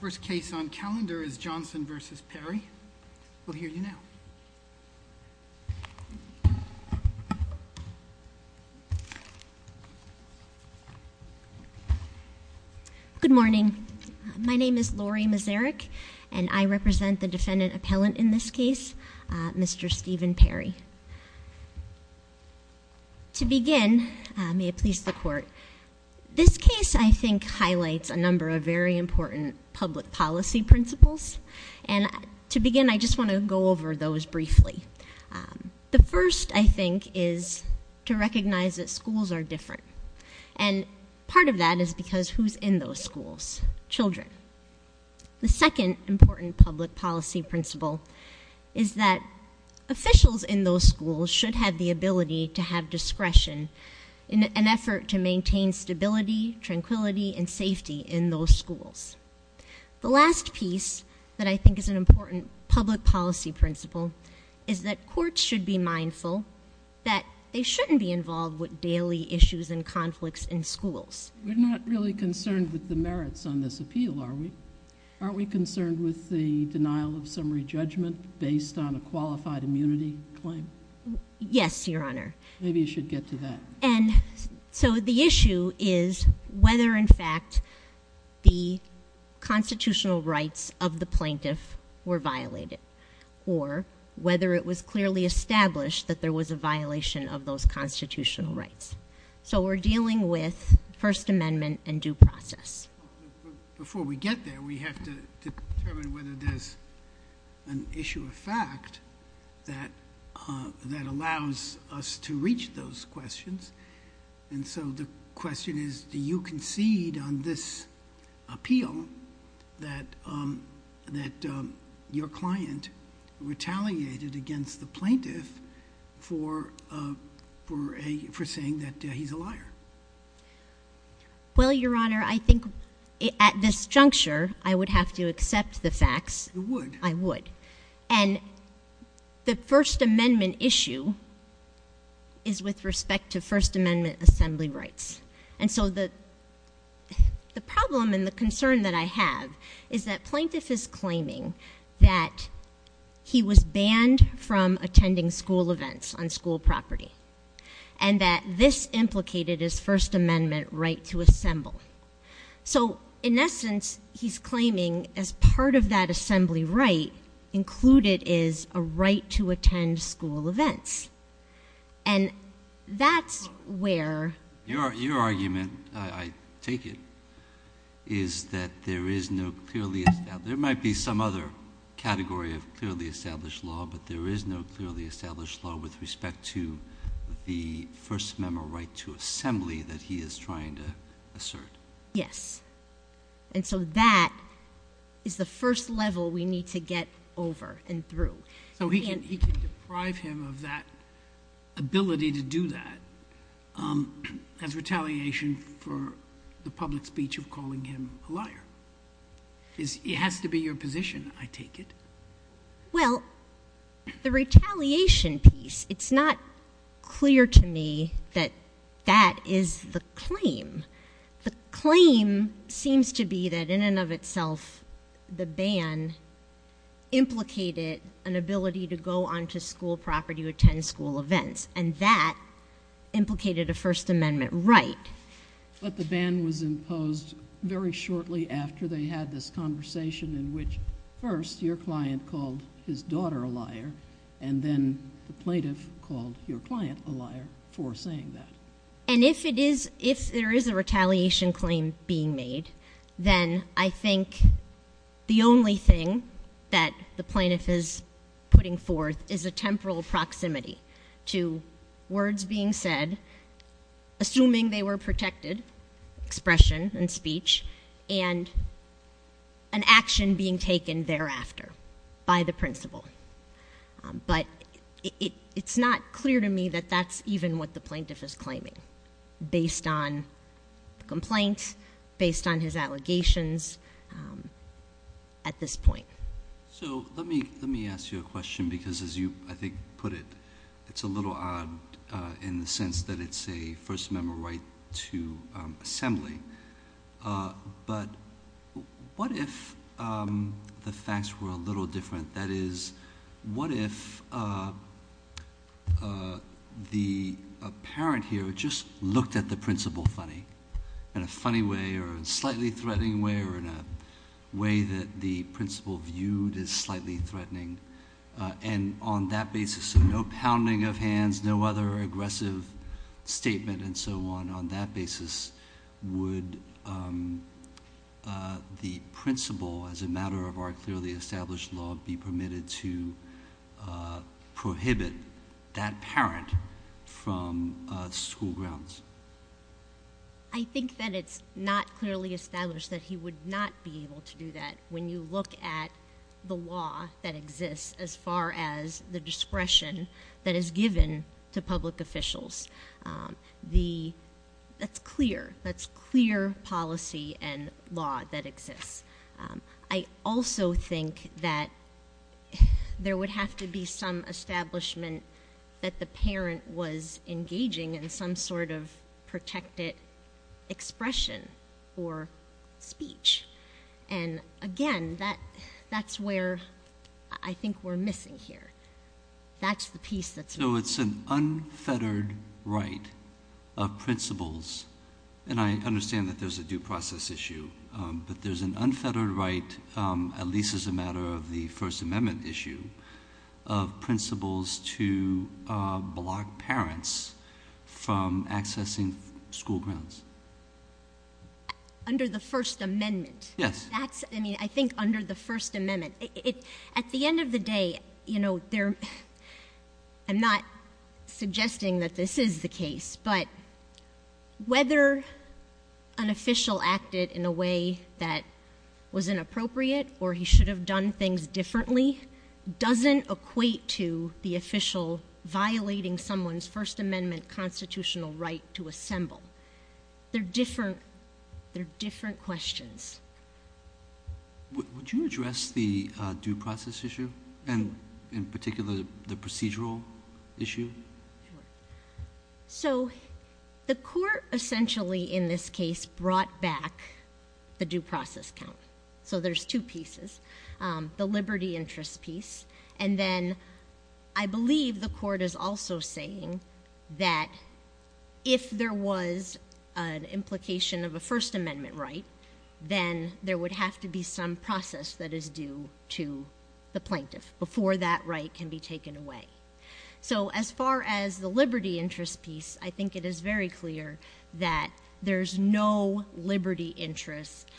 First case on calendar is Johnson v. Perry. We'll hear you now. Good morning. My name is Lori Mazarek and I represent the defendant appellant in this case, Mr. Stephen Perry. To begin, may it please the court, this case I think highlights a number of very important public policy principles and to begin I just want to go over those briefly. The first I think is to recognize that schools are different and part of that is because who's in those schools? Children. The second important public policy principle is that officials in those schools should have the ability to have discretion in an effort to maintain stability, tranquility, and safety in those schools. The last piece that I think is an important public policy principle is that courts should be mindful that they shouldn't be involved with daily issues and conflicts in schools. We're not really concerned with the merits on this appeal, are we? Are we concerned with the denial of summary judgment based on a qualified immunity claim? Yes, Your Honor. Maybe you should get to that. And so the issue is whether in fact the constitutional rights of the plaintiff were violated or whether it was clearly established that there was a violation of those constitutional rights. So we're dealing with First Amendment and due process. Before we get there we have to determine whether there's an issue of fact that allows us to reach those questions. And so the question is do you concede on this appeal that your client retaliated against the plaintiff for saying that he's a have to accept the facts. You would. I would. And the First Amendment issue is with respect to First Amendment assembly rights. And so the the problem and the concern that I have is that plaintiff is claiming that he was banned from attending school events on school property and that this implicated his First Amendment right to assemble. So in essence he's claiming as part of that assembly right included is a right to attend school events. And that's where Your argument, I take it, is that there is no clearly established, there might be some other category of clearly established law, but there is no clearly established law with respect to the First Amendment right to assembly that he is trying to assert. Yes. And so that is the first level we need to get over and through. So he can deprive him of that ability to do that as retaliation for the public speech of calling him a liar. It has to be your position, I take it. Well, the piece, it's not clear to me that that is the claim. The claim seems to be that in and of itself the ban implicated an ability to go on to school property to attend school events. And that implicated a First Amendment right. But the ban was imposed very shortly after they had this conversation in which first your client called his daughter a liar and then the plaintiff called your client a liar for saying that. And if it is, if there is a retaliation claim being made then I think the only thing that the plaintiff is putting forth is a temporal proximity to words being said, assuming they were protected, expression and by the principal. But it's not clear to me that that's even what the plaintiff is claiming based on complaints, based on his allegations at this point. So let me let me ask you a question because as you I think put it, it's a little odd in the sense that it's a First Amendment right to assembly. But what if the facts were a little different? That is, what if the parent here just looked at the principal funny, in a funny way or slightly threatening way or in a way that the principal viewed as slightly threatening. And on that basis, so no pounding of hands, no other aggressive statement and so on, on that basis would the principal as a matter of our clearly established law be permitted to prohibit that parent from school grounds? I think that it's not clearly established that he would not be able to do that when you look at the law that exists as far as the discretion that is given to public officials. The, that's clear, that's clear policy and law that exists. I also think that there would have to be some establishment that the parent was engaging in some sort of protected expression or speech. And again, that that's where I think we're missing here. That's the piece that's... So it's an unfettered right of principals, and I know there's a due process issue, but there's an unfettered right, at least as a matter of the First Amendment issue, of principals to block parents from accessing school grounds. Under the First Amendment? Yes. That's, I mean, I think under the First Amendment. It, at the end of the day, you know, there, I'm not suggesting that this is the case, but whether an official acted in a way that was inappropriate or he should have done things differently doesn't equate to the official violating someone's First Amendment constitutional right to assemble. They're different, they're different questions. Would you address the due process issue, and in particular the procedural issue? So the court essentially, in this case, brought back the due process count. So there's two pieces. The liberty interest piece, and then I believe the court is also saying that if there was an implication of a First Amendment right, then there would have to be some process that is due to the plaintiff before that right can be taken away. So as far as the liberty interest piece, I think it is very clear that there's no liberty interest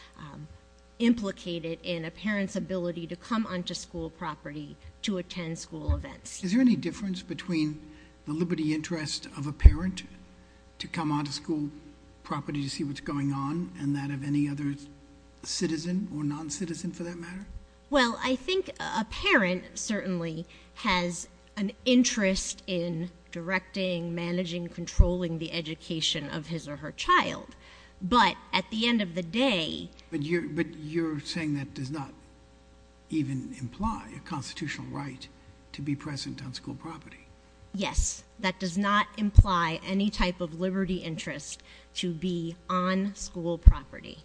implicated in a parent's ability to come onto school property to attend school events. Is there any difference between the liberty interest of a parent to come onto school property to see what's going on, and that of any other citizen or non-citizen for that matter? Well, I think a parent certainly has an interest in directing, managing, controlling the education of his or her child, but at the end of the day... But you're saying that does not even imply a constitutional right to be present on school property. Yes, that does not imply any type of liberty interest to be on school property.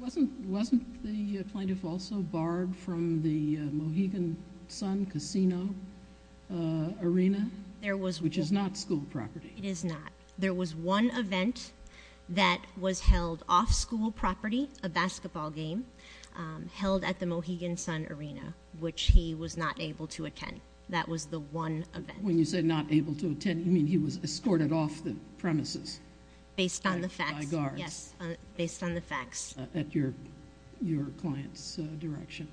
Wasn't the plaintiff also barred from the Mohegan Sun casino arena, which is not school property? It is not. There was one event that was held off school property, a basketball game, held at the Mohegan Sun arena, which he was not able to attend. That was the one event. When you say not able to attend, you mean he was escorted off the premises...... by guards. Based on the facts, yes. Based on the facts.... at your client's direction.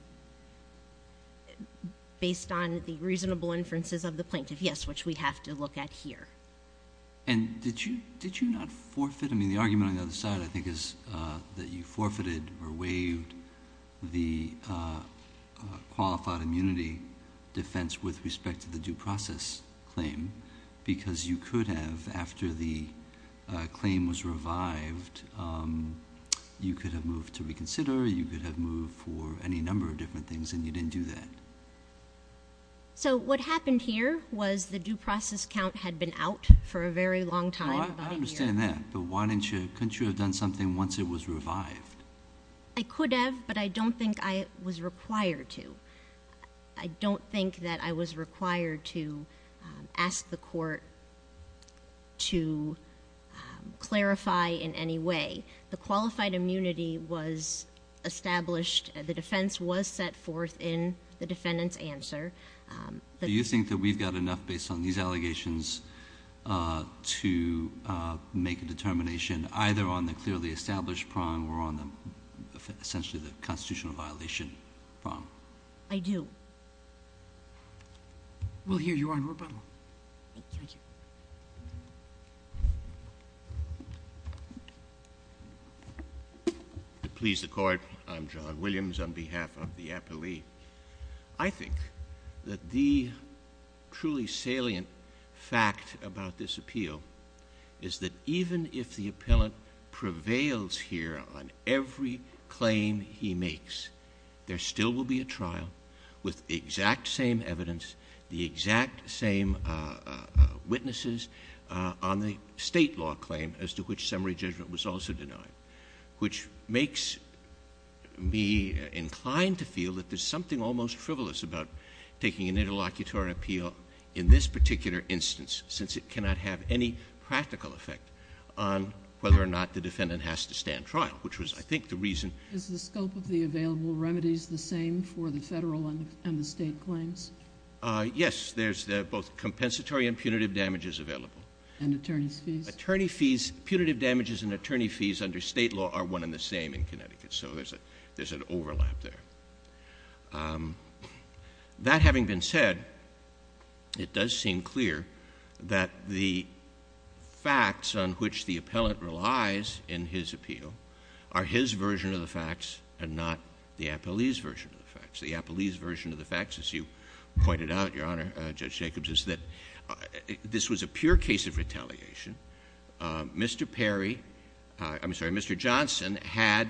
Based on the reasonable inferences of the plaintiff, yes, which we have to look at here. Did you not forfeit? The argument on the other side, I think, is that you forfeited or waived the qualified immunity defense with respect to the due process claim because you could have, after the claim was revived, you could have moved to reconsider, you could have moved for any number of different things, and you didn't do that. What happened here was the due process count had been out for a very long time... I understand that, but why couldn't you have done something once it was revived? I could have, but I don't think I was required to. I don't think that I was required to ask the court to clarify in any way. The qualified immunity was established. The defense was set forth in the defendant's answer. Do you think that we've got enough, based on these allegations, to make a constitutional violation? I do. We'll hear you on rebuttal. Thank you. To please the Court, I'm John Williams on behalf of the appellee. I think that the truly salient fact about this appeal is that even if the appellant prevails here on every claim he makes, there still will be a trial with the exact same evidence, the exact same witnesses on the State law claim as to which summary judgment was also denied, which makes me inclined to feel that there's something almost frivolous about taking an interlocutory appeal in this particular instance, since it cannot have any practical effect on whether or not the defendant has to stand trial, which was, I think, the reason... Is the scope of the available remedies the same for the Federal and the State claims? Yes. There's both compensatory and punitive damages available. And attorney's fees? Attorney fees, punitive damages and attorney fees under State law are one and the same in Connecticut. So there's an overlap there. That having been said, it does seem clear that the facts on which the defendant lies in his appeal are his version of the facts and not the appellee's version of the facts. The appellee's version of the facts, as you pointed out, Your Honor, Judge Jacobs, is that this was a pure case of retaliation. Mr. Perry... I'm sorry, Mr. Johnson had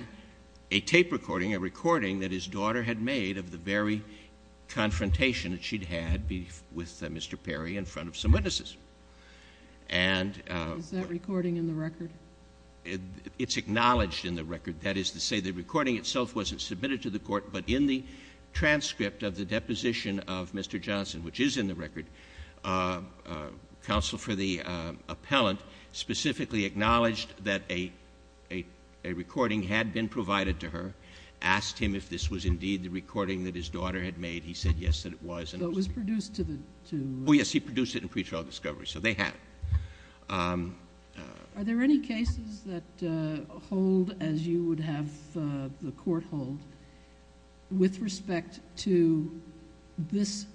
a tape recording, a recording that his daughter had made of the very confrontation that she'd had with Mr. Perry in front of some witnesses. And... Is that recording in the record? It's acknowledged in the record. That is to say, the recording itself wasn't submitted to the Court, but in the transcript of the deposition of Mr. Johnson, which is in the record, counsel for the appellant specifically acknowledged that a recording had been provided to her, asked him if this was indeed the recording that his daughter had made. He said, yes, that it was. So it was produced to the... Oh, yes. He produced it in pre-trial discovery. So they have it. Are there any cases that hold as you would have the Court hold with respect to this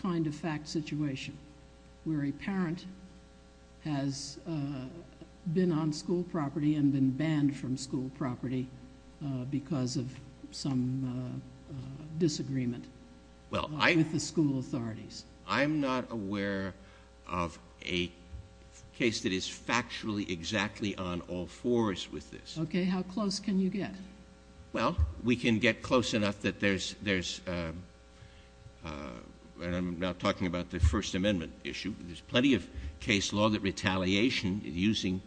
kind of fact situation, where a parent has been on school property and been banned from school property because of some disagreement with the school authorities? I'm not aware of a case that is factually exactly on all fours with this. Okay. How close can you get? Well, we can get close enough that there's... and I'm not talking about the First Amendment issue. There's plenty of case law that retaliation, using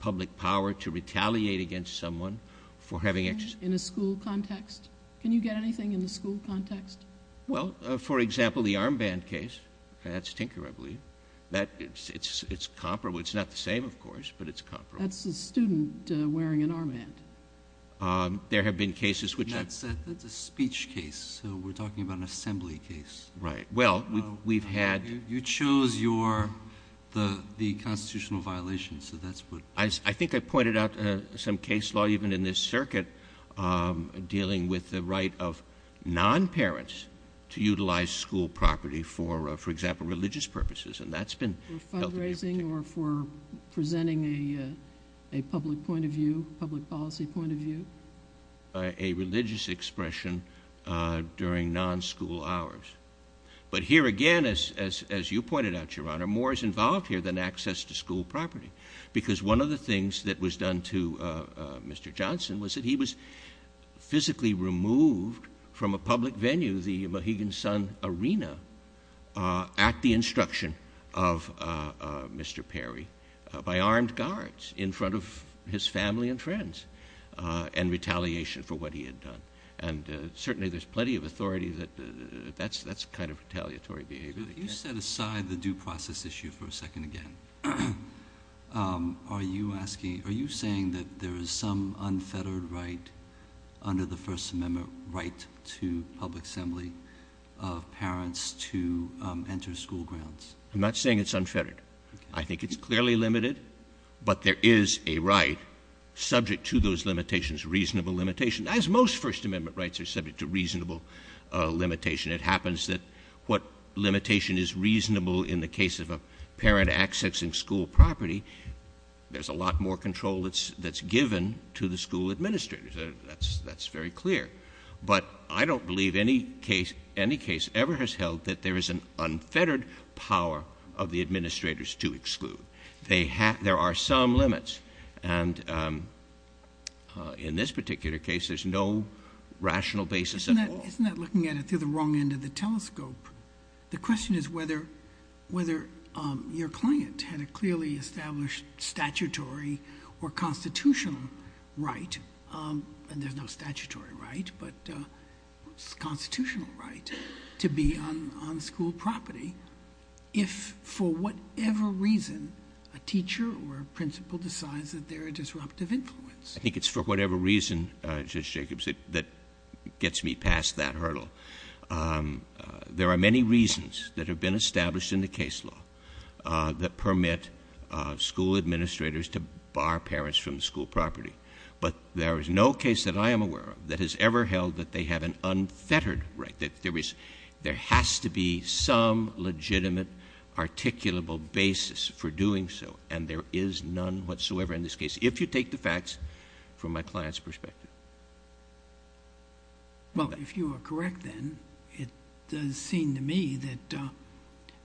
public power to retaliate against someone for having... In a school context? Can you get anything in the school context? Well, for example, the armband case. That's Tinker, I believe. It's comparable. It's not the same, of course, but it's comparable. That's a student wearing an armband. There have been cases which... That's a speech case. So we're talking about an assembly case. Right. Well, we've had... You chose the constitutional violation, so that's what... I think I pointed out some case law, even in this circuit, dealing with the non-parents to utilize school property for, for example, religious purposes. And that's been... For fundraising or for presenting a public point of view, public policy point of view? A religious expression during non-school hours. But here again, as you pointed out, Your Honor, more is involved here than access to school property. Because one of the things that was done to Mr. Johnson was that he was physically removed from a public venue, the Mohegan Sun Arena, at the instruction of Mr. Perry, by armed guards, in front of his family and friends, and retaliation for what he had done. And certainly there's plenty of authority that that's kind of retaliatory behavior. But if you set aside the due process issue for a second again, are you saying that there is some unfettered right under the First Amendment right to public assembly of parents to enter school grounds? I'm not saying it's unfettered. I think it's clearly limited. But there is a right subject to those limitations, reasonable limitation, as most First Amendment rights are subject to reasonable limitation. It happens that what limitation is reasonable in the case of a parent accessing school property, there's a lot more control that's given to the school administrators. That's very clear. But I don't believe any case ever has held that there is an unfettered power of the administrators to exclude. There are some limits. And in this particular case, there's no rational basis at all. Isn't that looking at it through the wrong end of the telescope? The question is whether your client had a clearly established statutory or constitutional right, and there's no statutory right, but constitutional right, to be on school property if for whatever reason a teacher or a principal decides that they're a disruptive influence. I think it's for whatever reason, Judge Jacobs, that gets me past that hurdle. There are many reasons that have been established in the case law that permit school administrators to bar parents from school property. But there is no case that I am aware of that has ever held that they have an unfettered right, that there has to be some legitimate, articulable basis for doing so. And there is none whatsoever in this case, if you take the facts from my client's perspective. Well, if you are correct then, it does seem to me that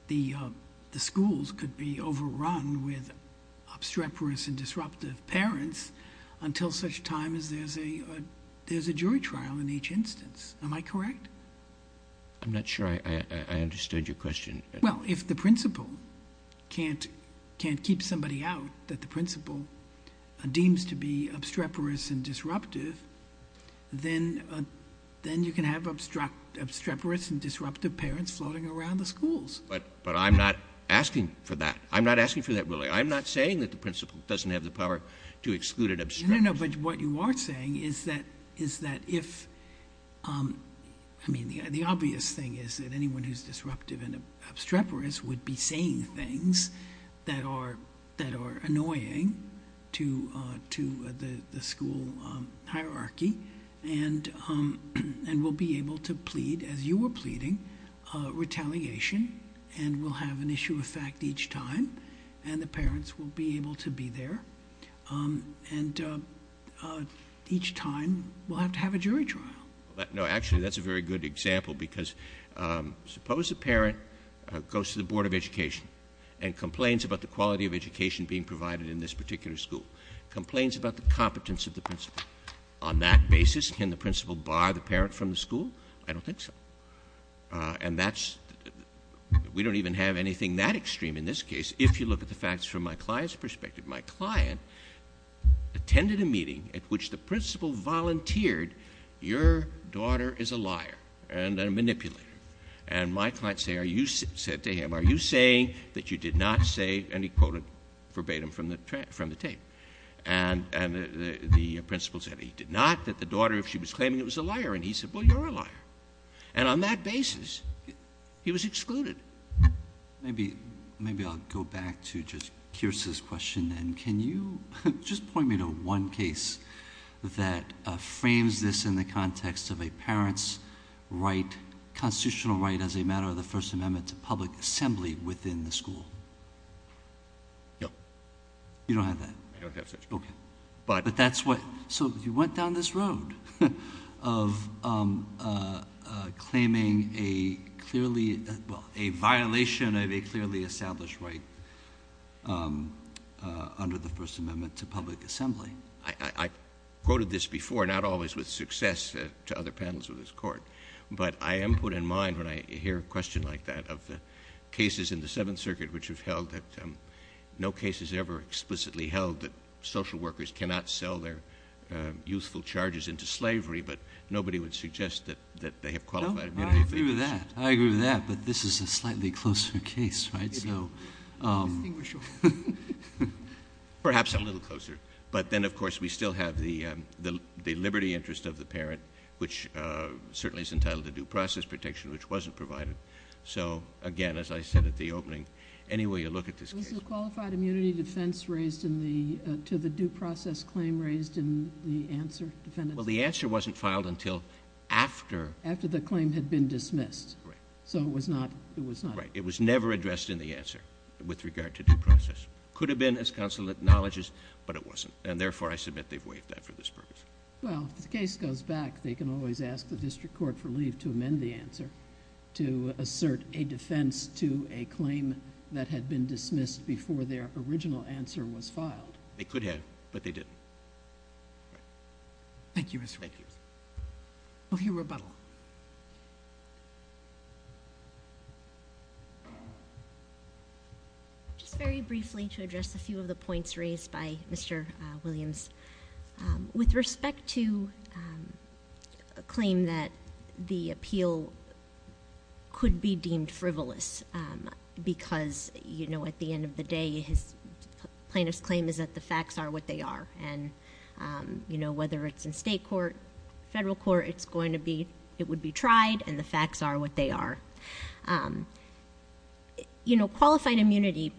the schools could be overrun with obstreperous and disruptive parents until such time as there's a jury trial in each instance. Am I correct? I'm not sure I understood your question. Well, if the principal can't keep somebody out that the principal deems to be disruptive, then you can have obstreperous and disruptive parents floating around the schools. But I'm not asking for that. I'm not asking for that really. I'm not saying that the principal doesn't have the power to exclude and obstruct. No, no, no. But what you are saying is that if, I mean, the obvious thing is that anyone who's disruptive and obstreperous would be saying things that are And we'll be able to plead, as you were pleading, retaliation. And we'll have an issue of fact each time. And the parents will be able to be there. And each time we'll have to have a jury trial. No, actually, that's a very good example because suppose a parent goes to the Board of Education and complains about the quality of education being provided in this particular school. Complains about the competence of the principal. On that basis, can the principal bar the parent from the school? I don't think so. And that's we don't even have anything that extreme in this case, if you look at the facts from my client's perspective. My client attended a meeting at which the principal volunteered, your daughter is a liar and a manipulator. And my client said to him, Are you saying that you did not say, and he quoted verbatim from the tape. And the principal said he did not, that the daughter, if she was claiming it, was a liar. And he said, Well, you're a liar. And on that basis, he was excluded. Maybe I'll go back to just Kierse's question then. Can you just point me to one case that frames this in the context of a parent's constitutional right as a matter of the First Amendment to public assembly within the school? No. You don't have that? I don't have that. Okay. But that's what, so you went down this road of claiming a clearly, well, a violation of a clearly established right under the First Amendment to public assembly. I quoted this before, not always with success to other panels of this of the cases in the Seventh Circuit, which have held that no case has ever explicitly held that social workers cannot sell their youthful charges into slavery, but nobody would suggest that they have qualified immunity. I agree with that. But this is a slightly closer case, right? Perhaps a little closer, but then of course we still have the liberty interest of the parent, which certainly is entitled to due process protection, which wasn't provided. So again, as I said at the opening, any way you look at this case... Was the qualified immunity defense raised to the due process claim raised in the answer, defendant's... Well, the answer wasn't filed until after... After the claim had been dismissed. Right. So it was not... Right. It was never addressed in the answer with regard to due process. Could have been as counsel acknowledges, but it wasn't, and therefore I submit they've waived that for this purpose. Well, if the case goes back, they can always ask the district court for to assert a defense to a claim that had been dismissed before their original answer was filed. They could have, but they didn't. Thank you, Mr. Williams. Thank you. We'll hear rebuttal. Just very briefly to address a few of the points raised by Mr. Williams. With respect to a claim that the appeal could be deemed frivolous, because, you know, at the end of the day, plaintiff's claim is that the facts are what they are. And, you know, whether it's in state court, federal court, it's going to be... it would be tried, and the facts are what they are. You know, qualified immunity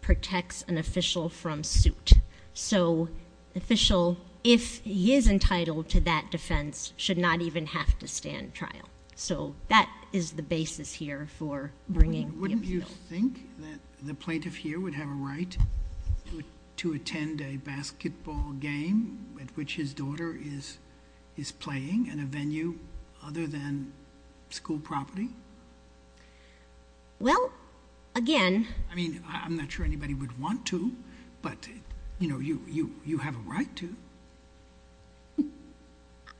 protects an official from suit. So the official, if he is entitled to that defense, should not even have to stand trial. So that is the basis here for bringing the appeal. Wouldn't you think that the plaintiff here would have a right to attend a basketball game at which his daughter is playing in a venue other than school property? Well, again... I mean, I'm not sure anybody would want to, but, you know, you have a right to.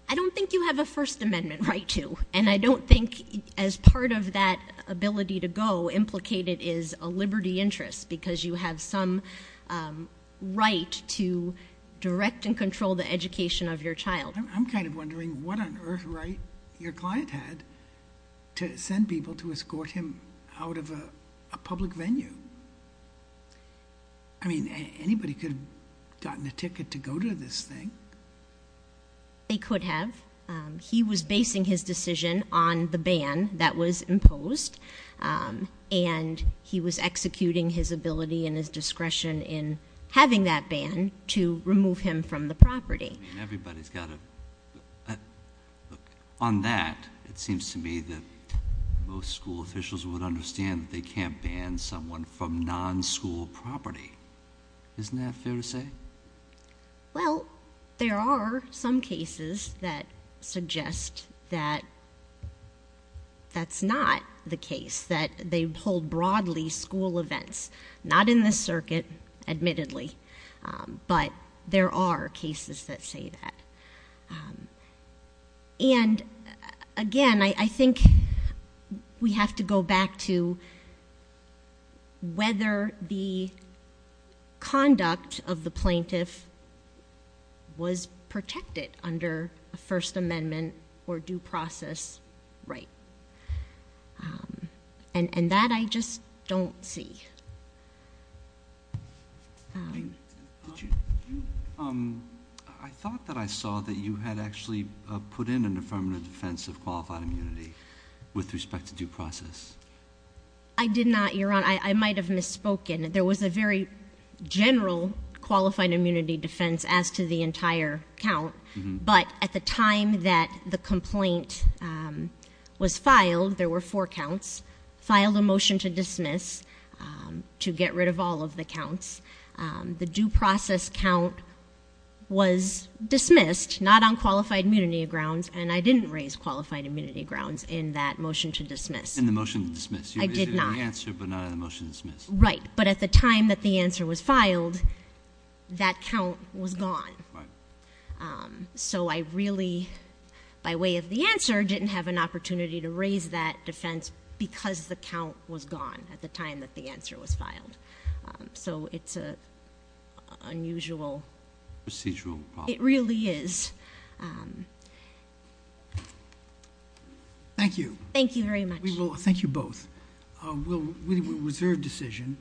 I don't think you have a First Amendment right to. And I don't think, as part of that ability to go, implicated is a liberty interest because you have some right to direct and control the education of your child. I'm kind of wondering what on earth right your client had to send people to escort him out of a public venue. I mean, anybody could have gotten a ticket to go to this thing. They could have. He was basing his decision on the ban that was imposed, and he was executing his ability and his discretion in having that ban to remove him from the property. I mean, everybody's got a... On that, it seems to me that most school officials would understand that they can't ban someone from non-school property. Isn't that fair to say? Well, there are some cases that suggest that that's not the case, that they hold broadly school events. Not in this circuit, admittedly. But there are cases that say that. And, again, I think we have to go back to whether the conduct of the plaintiff was protected under a First Amendment or due process right. And that I just don't see. I thought that I saw that you had actually put in an affirmative defense of qualified immunity with respect to due process. I did not, Your Honor. I might have misspoken. There was a very general qualified immunity defense as to the entire count, but at the time that the complaint was filed, there were four counts, filed a motion to dismiss to get rid of all of the counts. The due process count was dismissed, not on qualified immunity grounds, and I didn't raise qualified immunity grounds in that motion to dismiss. In the motion to dismiss. I did not. You raised it in the answer, but not in the motion to dismiss. Right. But at the time that the answer was filed, that count was gone. Right. So I really, by way of the answer, didn't have an opportunity to raise that defense because the count was gone at the time that the answer was filed. So it's an unusual... Procedural problem. It really is. Thank you. Thank you very much. Thank you both. We'll reserve decision.